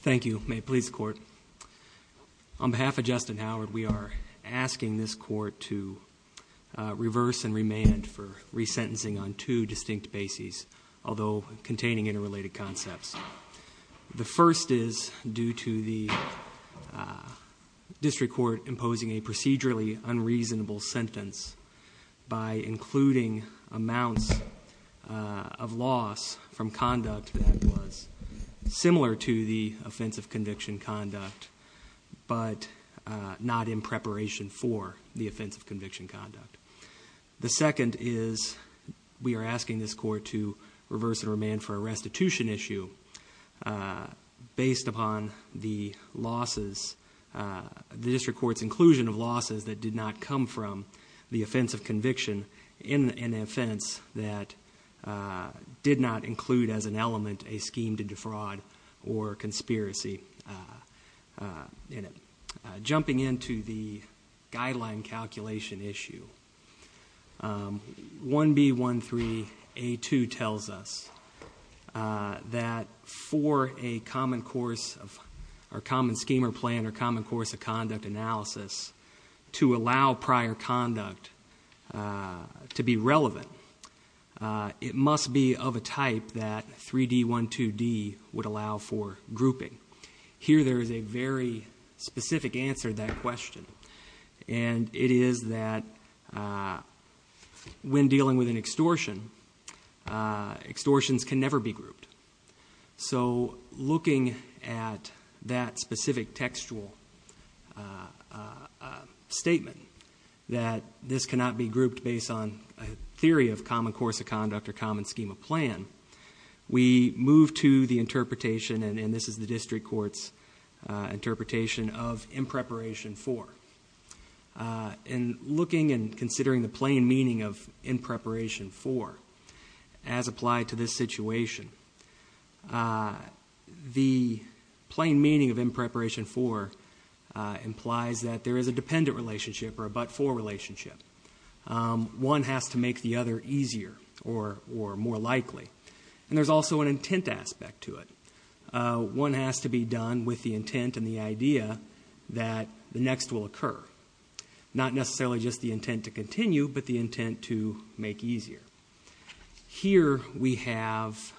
Thank you. May it please the court. On behalf of Justin Howard, we are asking this court to reverse and remand for resentencing on two distinct bases, although containing interrelated concepts. The first is due to the district court imposing a procedurally unreasonable sentence by including amounts of loss from conduct that was similar to the offense of conviction conduct, but not in preparation for the offense of conviction conduct. The second is we are asking this court to reverse and remand for a restitution issue based upon the district court's inclusion of losses that did not come from the offense of conviction in an offense that did not include as an element a scheme to defraud or conspiracy in it. Jumping into the guideline calculation issue, 1B13A2 tells us that for a common scheme or plan or common course of conduct analysis to allow prior conduct to be relevant, it must be of a type that 3D12D would allow for grouping. Here there is a very specific answer to that question, and it is that when dealing with an extortion, extortions can never be grouped. So looking at that specific textual statement that this cannot be grouped based on a theory of common course of conduct or common scheme of plan, we move to the interpretation, and this is the district court's interpretation, of in preparation for. In looking and considering the plain meaning of in preparation for as applied to this situation, the plain meaning of in preparation for implies that there is a dependent relationship or a but-for relationship. One has to make the other easier or more likely. There is also an intent aspect to it. One has to be done with the intent and the idea that the next will occur. Not necessarily just the intent to continue, but the intent to make easier. Here we have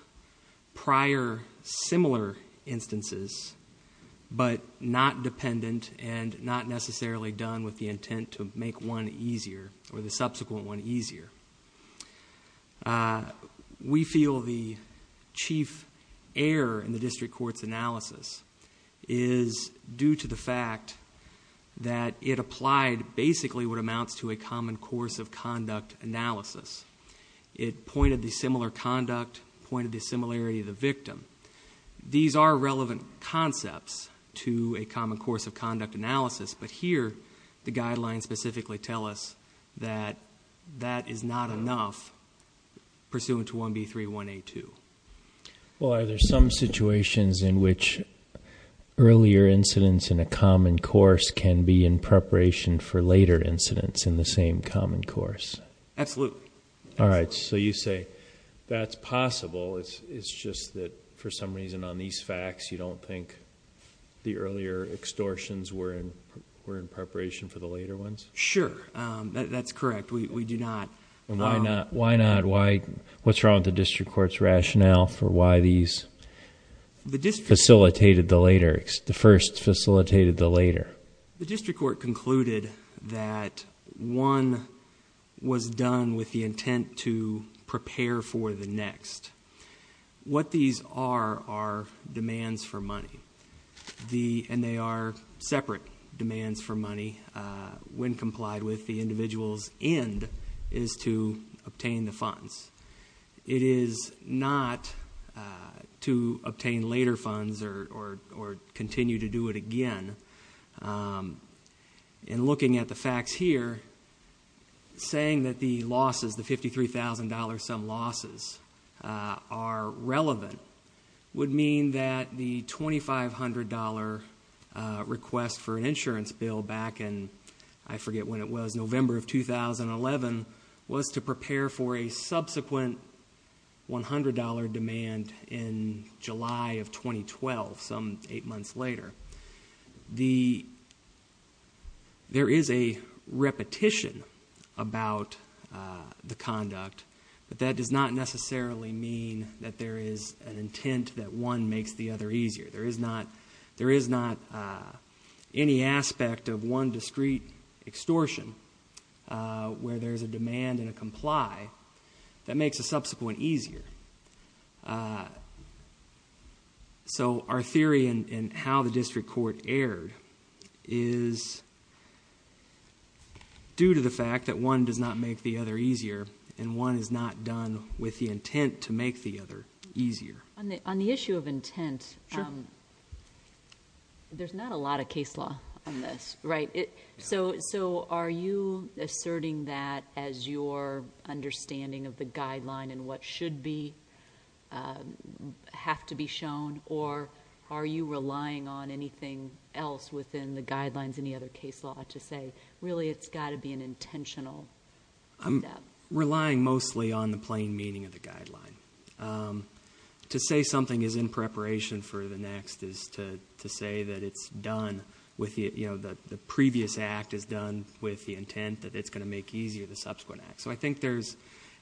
prior similar instances, but not dependent and not necessarily done with the intent to make one easier or the subsequent one easier. We feel the chief error in the district court's analysis is due to the fact that it applied basically what amounts to a common course of conduct analysis. It pointed the similar conduct, pointed the similarity of the victim. These are relevant concepts to a common course of conduct analysis, but here the guidelines specifically tell us that that is not enough pursuant to 1B31A2. Well, are there some situations in which earlier incidents in a common course can be in preparation for later incidents in the same common course? Absolutely. Alright, so you say that's possible, it's just that for some reason on these facts you don't think the earlier extortions were in preparation for the later ones? Sure, that's correct. We do not... Why not? What's wrong with the district court's rationale for why these facilitated the later, the first facilitated the later? The district court concluded that one was the, and they are separate demands for money, when complied with, the individual's end is to obtain the funds. It is not to obtain later funds or continue to do it again. In looking at the facts here, saying that the losses, the $53,000 some losses, are relevant would mean that the $2,500 request for an insurance bill back in, I forget when it was, November of 2011, was to prepare for a subsequent $100 demand in July of 2012, some eight months later. The, there is a repetition about the conduct, but that does not necessarily mean that there is an intent that one makes the other easier. There is not, there is not any aspect of one discrete extortion where there's a demand and a comply that makes a subsequent easier. So our theory in how the district court erred is due to the fact that one does not make the other easier, and one is not done with the intent to make the other easier. On the issue of intent, there's not a lot of case law on this, right? So are you asserting that as your understanding of the guideline and what should be, have to be shown, or are you relying on anything else within the guidelines in the other case law to say, really it's got to be an intentional? I'm relying mostly on the plain meaning of the guideline. To say something is in preparation for the next is to say that it's done with the, you know, the previous act is done with the intent that it's going to make easier the subsequent act. So I think there's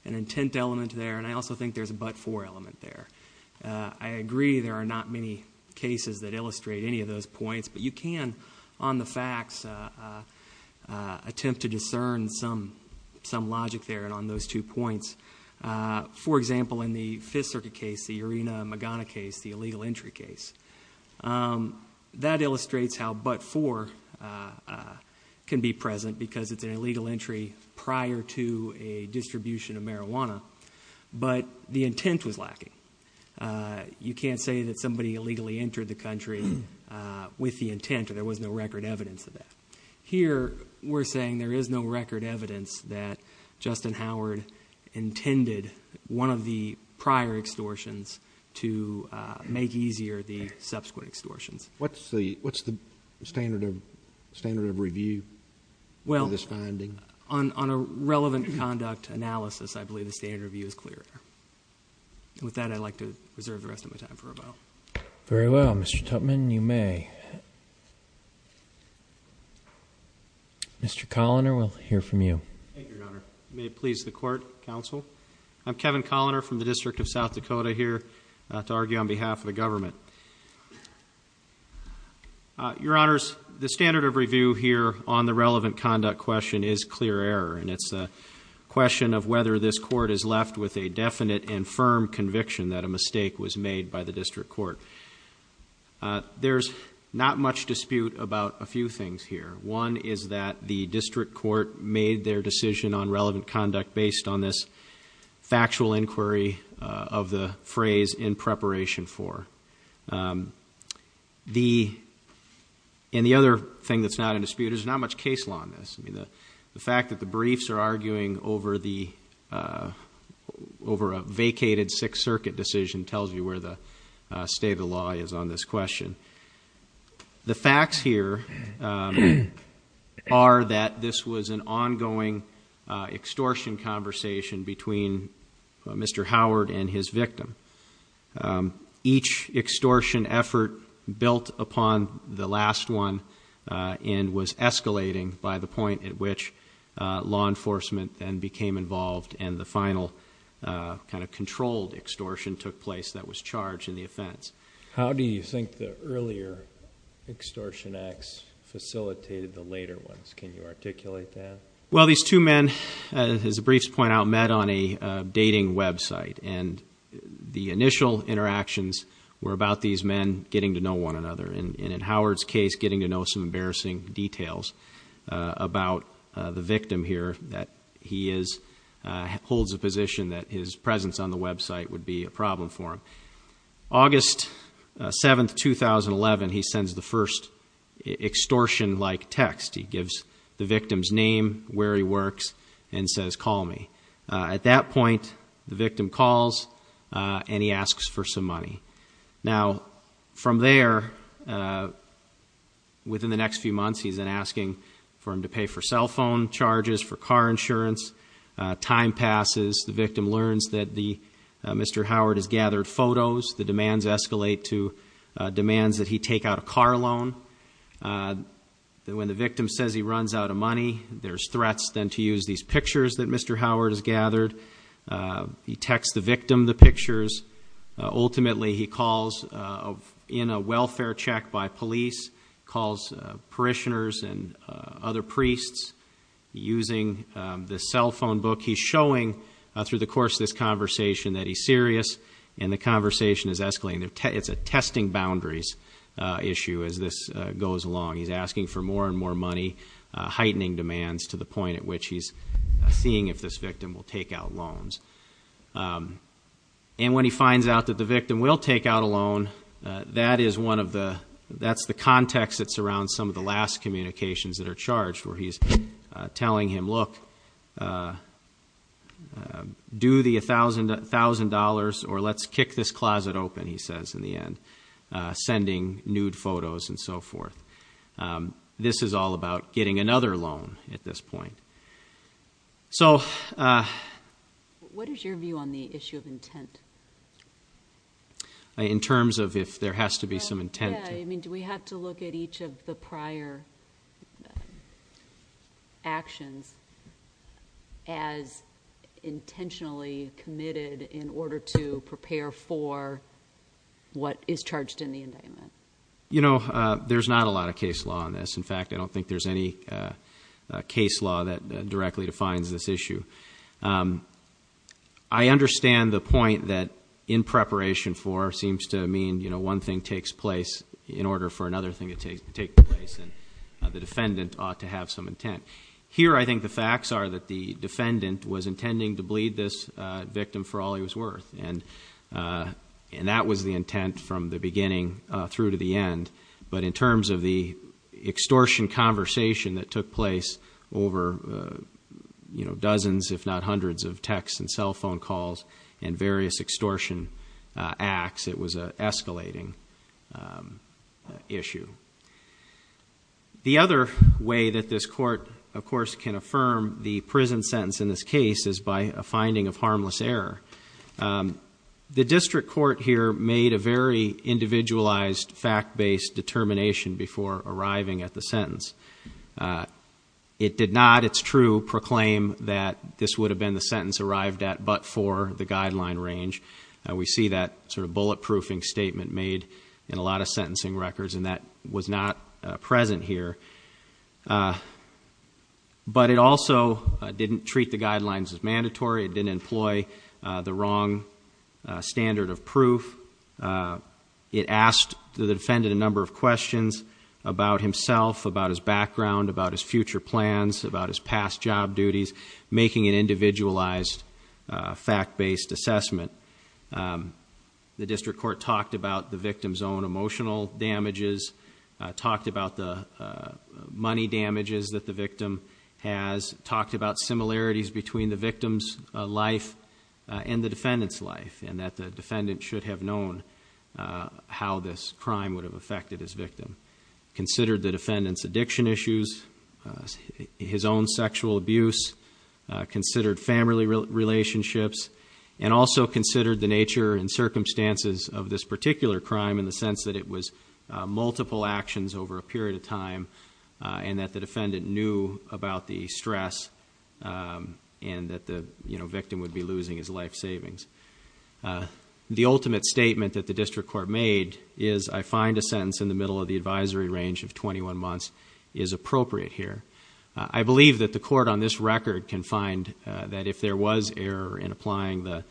an intent element there, and I also think there's a but-for element there. I agree there are not many cases that illustrate any of those points, but you can, on the facts, attempt to discern some logic there on those two points. For example, in the Fifth Circuit case, the Irina Magana case, the illegal entry case, that illustrates how but-for can be present because it's an illegal entry prior to a distribution of marijuana, but the intent was lacking. You can't say that somebody illegally entered the country with the intent, or there was no record evidence of that. Here, we're saying there is no record evidence that Justin Howard intended one of the prior extortions to make easier the subsequent extortions. What's the standard of review for this finding? Well, on a relevant conduct analysis, I believe the standard of review is clear. With that, I'd like to reserve the rest of my time for questions. Very well. Mr. Tutman, you may. Mr. Colliner, we'll hear from you. Thank you, Your Honor. May it please the Court, Counsel? I'm Kevin Colliner from the District of South Dakota here to argue on behalf of the government. Your Honors, the standard of review here on the relevant conduct question is clear error, and it's a question of whether this Court is left with a definite and firm conviction that a mistake was made by the District Court. There's not much dispute about a few things here. One is that the District Court made their decision on relevant conduct based on this factual inquiry of the phrase, in preparation for. The other thing that's not in dispute is there's not much case law on this. The fact that the briefs are arguing over a vacated Sixth Circuit decision tells you where the state of the law is on this question. The facts here are that this was an ongoing extortion conversation between Mr. Howard and his victim. Each extortion effort built upon the last one and was escalating by the point at which law enforcement then became involved and the final kind of controlled extortion took place that was charged in the offense. How do you think the earlier extortion acts facilitated the later ones? Can you articulate that? Well, these two men, as the briefs point out, met on a dating website, and the initial interactions were about these men getting to know one another, and in Howard's case, getting to know some embarrassing details about the victim here that he holds a position that his presence on the website would be a problem for him. August 7, 2011, he sends the first extortion-like text. He gives the victim's name, where he works, and says, call me. At that point, the victim calls, and he asks for some money. Now, from there, within the next few months, he's then asking for him to pay for cell phone charges, for car insurance. Time passes. The victim learns that Mr. Howard has gathered photos. The demands escalate to demands that he take out a car loan. When the victim says he runs out of money, there's threats then to use these pictures that Mr. Howard has gathered. He texts the victim the pictures. Ultimately, he calls in a welfare check by police, calls parishioners and other priests using the cell phone book. He's showing, through the course of this conversation, that he's serious, and the conversation is escalating. It's a testing boundaries issue as this goes along. He's asking for more and more money, heightening demands to the point at which he's seeing if this victim will take out loans. When he finds out that the victim will take out a loan, that's the context that surrounds some of the last communications that are charged, where he's telling him, look, do the $1,000, or let's kick this closet open, he says in the end, sending nude photos and so forth. This is all about getting another loan at this point. What is your view on the issue of intent? In terms of if there has to be some intent. Do we have to look at each of the prior actions as intentionally committed in order to prepare for what is charged in the indictment? There's not a lot of case law on this. In fact, I don't think there's any case law that directly defines this issue. I understand the point that in preparation for seems to mean one thing takes place in order for another thing to take place, and the defendant ought to have some intent. Here I think the facts are that the defendant was intending to bleed this victim for all he was worth, and that was the intent from the beginning through to the end. But in terms of the extortion conversation that took place over dozens, if not hundreds, of texts and cell phone calls and various extortion acts, it was an escalating issue. The other way that this court, of course, can affirm the prison sentence in this case is by a finding of harmless error. The district court here made a very individualized fact-based determination before arriving at the sentence. It did not, it's true, proclaim that this would have been the sentence arrived at but for the guideline range. We see that sort of bullet statement made in a lot of sentencing records and that was not present here. But it also didn't treat the guidelines as mandatory. It didn't employ the wrong standard of proof. It asked the defendant a number of questions about himself, about his background, about his future plans, about his past job duties, making an individualized fact-based assessment. The district court talked about the victim's own emotional damages, talked about the money damages that the victim has, talked about similarities between the victim's life and the defendant's life, and that the defendant should have known how this crime would have affected his victim. Considered the defendant's addiction issues, his own sexual abuse, considered family relationships, and also considered the nature and circumstances of this particular crime in the sense that it was multiple actions over a period of time and that the defendant knew about the stress and that the victim would be losing his life savings. The ultimate statement that the district court made is, I find a sentence in the middle of the advisory range of 21 months is appropriate here. I believe that the court on this record can find that if there was error in applying the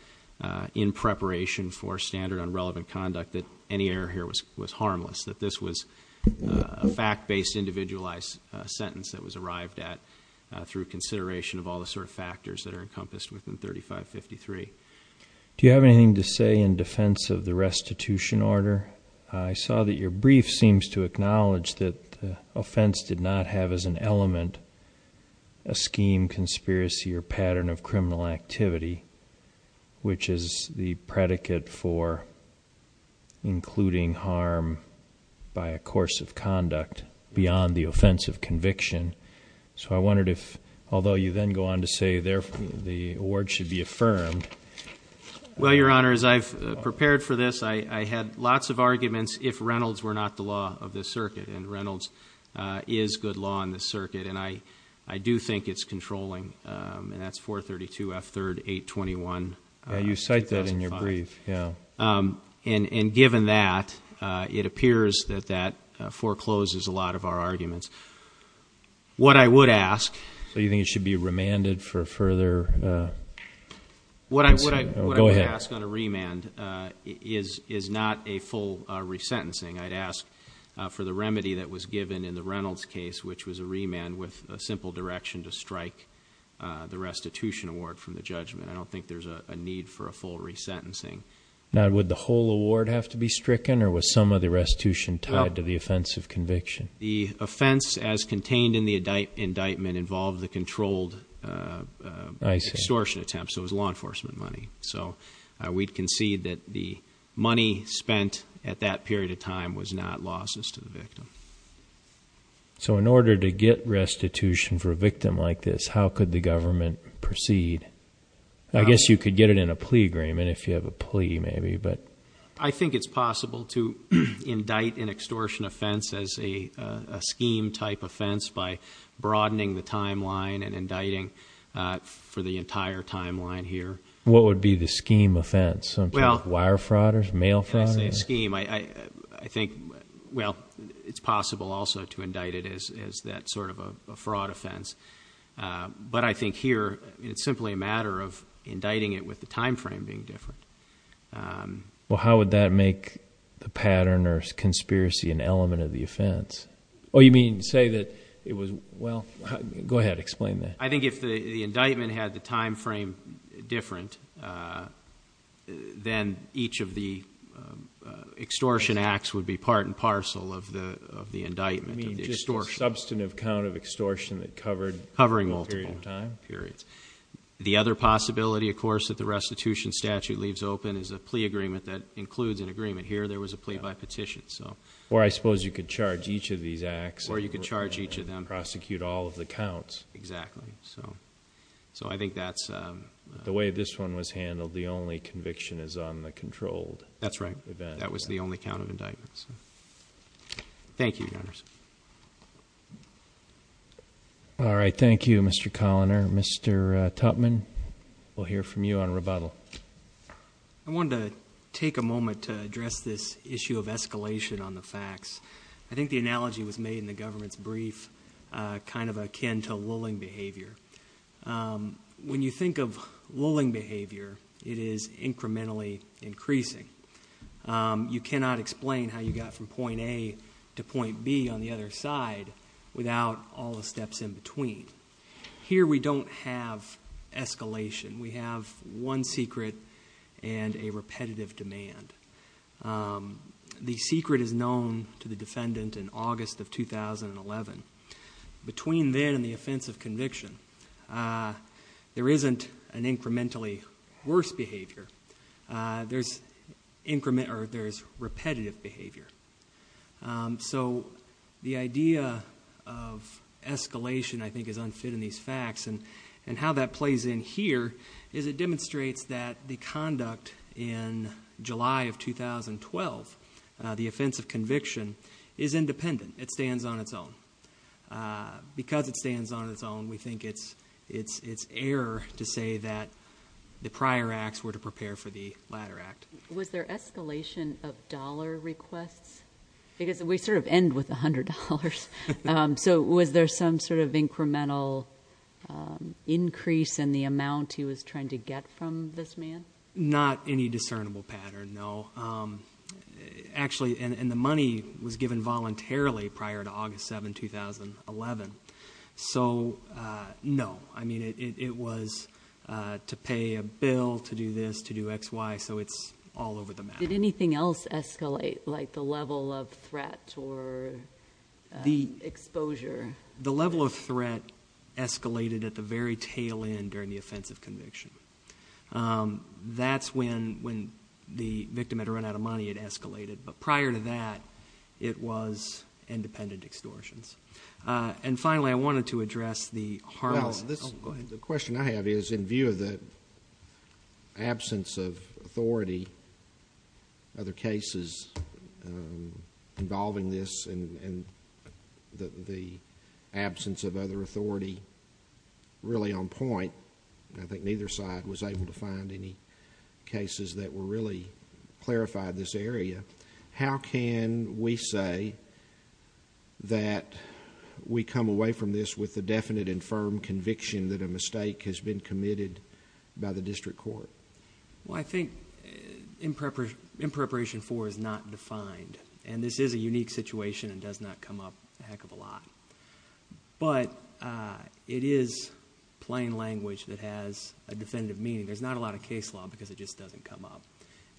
in preparation for standard on relevant conduct that any error here was harmless, that this was a fact-based individualized sentence that was arrived at through consideration of all the sort of factors that are encompassed within 3553. Do you have anything to say in defense of the restitution order? I saw that your brief seems to acknowledge that the offense did not have as an element a scheme, conspiracy, or pattern of criminal activity, which is the predicate for including harm by a course of conduct beyond the offense of conviction. So I wondered if, although you then go on to say therefore the award should be affirmed. Well, your honor, as I've prepared for this, I had not the law of this circuit, and Reynolds is good law in this circuit, and I do think it's controlling, and that's 432 F 3rd 821. You cite that in your brief, yeah. And given that, it appears that that forecloses a lot of our arguments. What I would ask. So you think it should be for the remedy that was given in the Reynolds case, which was a remand with a simple direction to strike the restitution award from the judgment. I don't think there's a need for a full resentencing. Now, would the whole award have to be stricken, or was some of the restitution tied to the offense of conviction? The offense, as contained in the indictment, involved the controlled extortion attempt, so it was law enforcement money. So we'd concede that the money spent at that period of time was not losses to the victim. So in order to get restitution for a victim like this, how could the government proceed? I guess you could get it in a plea agreement if you have a plea maybe, but. I think it's possible to indict an extortion offense as a scheme type offense by broadening the timeline and indicting for the entire timeline here. What would be the scheme offense? Wire fraud, mail fraud? I think, well, it's possible also to indict it as that sort of a fraud offense, but I think here it's simply a matter of indicting it with the time frame being different. Well, how would that make the pattern or conspiracy an element of the offense? Oh, you mean say that it was, well, go ahead, explain that. I think if the indictment had the time frame, then each of the extortion acts would be part and parcel of the indictment. You mean just a substantive count of extortion that covered a period of time? Covering multiple periods. The other possibility, of course, that the restitution statute leaves open is a plea agreement that includes an agreement. Here there was a plea by petition, so. Or I suppose you could charge each of these acts. Or you could charge each of them. Prosecute all of the counts. Exactly. So I think that's. The way this one was handled, the only conviction is on the controlled. That's right. That was the only count of indictments. Thank you, Your Honors. All right. Thank you, Mr. Coloner. Mr. Tupman, we'll hear from you on rebuttal. I wanted to take a moment to address this issue of escalation on the facts. I think the analogy was made in the government's brief, kind of akin to lulling behavior. When you think of lulling behavior, it is incrementally increasing. You cannot explain how you got from point A to point B on the other side without all the steps in between. Here we don't have escalation. We have one secret and a repetitive demand. The secret is known to the defendant in August of 2011. Between then and the offense of conviction, there isn't an incrementally worse behavior. There's repetitive behavior. So the idea of escalation, I think, is unfit in these facts. And how that plays in here is it demonstrates that the conduct in July of 2012, the offense of conviction, is independent. It stands on its own. Because it stands on its own, we think it's error to say that the prior acts were to prepare for the latter act. Was there escalation of dollar requests? Because we sort of end with $100. So was there some sort of incremental increase in the amount he was trying to get from this man? Not any discernible pattern, no. Actually, and the money was given voluntarily prior to August 7, 2011. So no. I mean, it was to pay a bill, to do this, to do XY. So it's all over the map. Did anything else escalate, like the level of threat or exposure? The level of threat escalated at the very tail end during the offense of conviction. That's when the victim had run out of money, it escalated. But prior to that, it was independent extortions. And finally, I wanted to address the harmless... Well, the question I have is, in view of the absence of authority, other cases involving this and the absence of other authority really on point, I think neither side was able to find any cases that were really clarified this area, how can we say that we come away from this with a definite and firm conviction that a mistake has been committed by the district court? Well, I think in preparation for is not defined, and this is a unique situation and does not come up a heck of a lot. But it is plain language that has a definitive meaning. There's not a lot of case law because it just doesn't come up.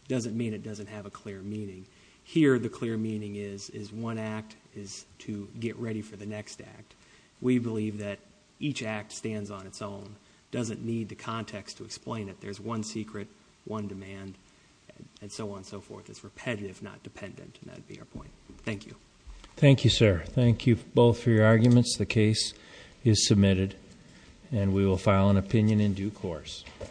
It doesn't mean it doesn't have a clear meaning. Here, the clear meaning is one act is to get ready for the next act. We believe that each act stands on its own, doesn't need the context to explain it. There's one secret, one demand, and so on and so forth. It's repetitive, not dependent, and that would be our point. Thank you. Thank you, sir. Thank you both for your arguments. The case is submitted, and we will file an opinion in due course.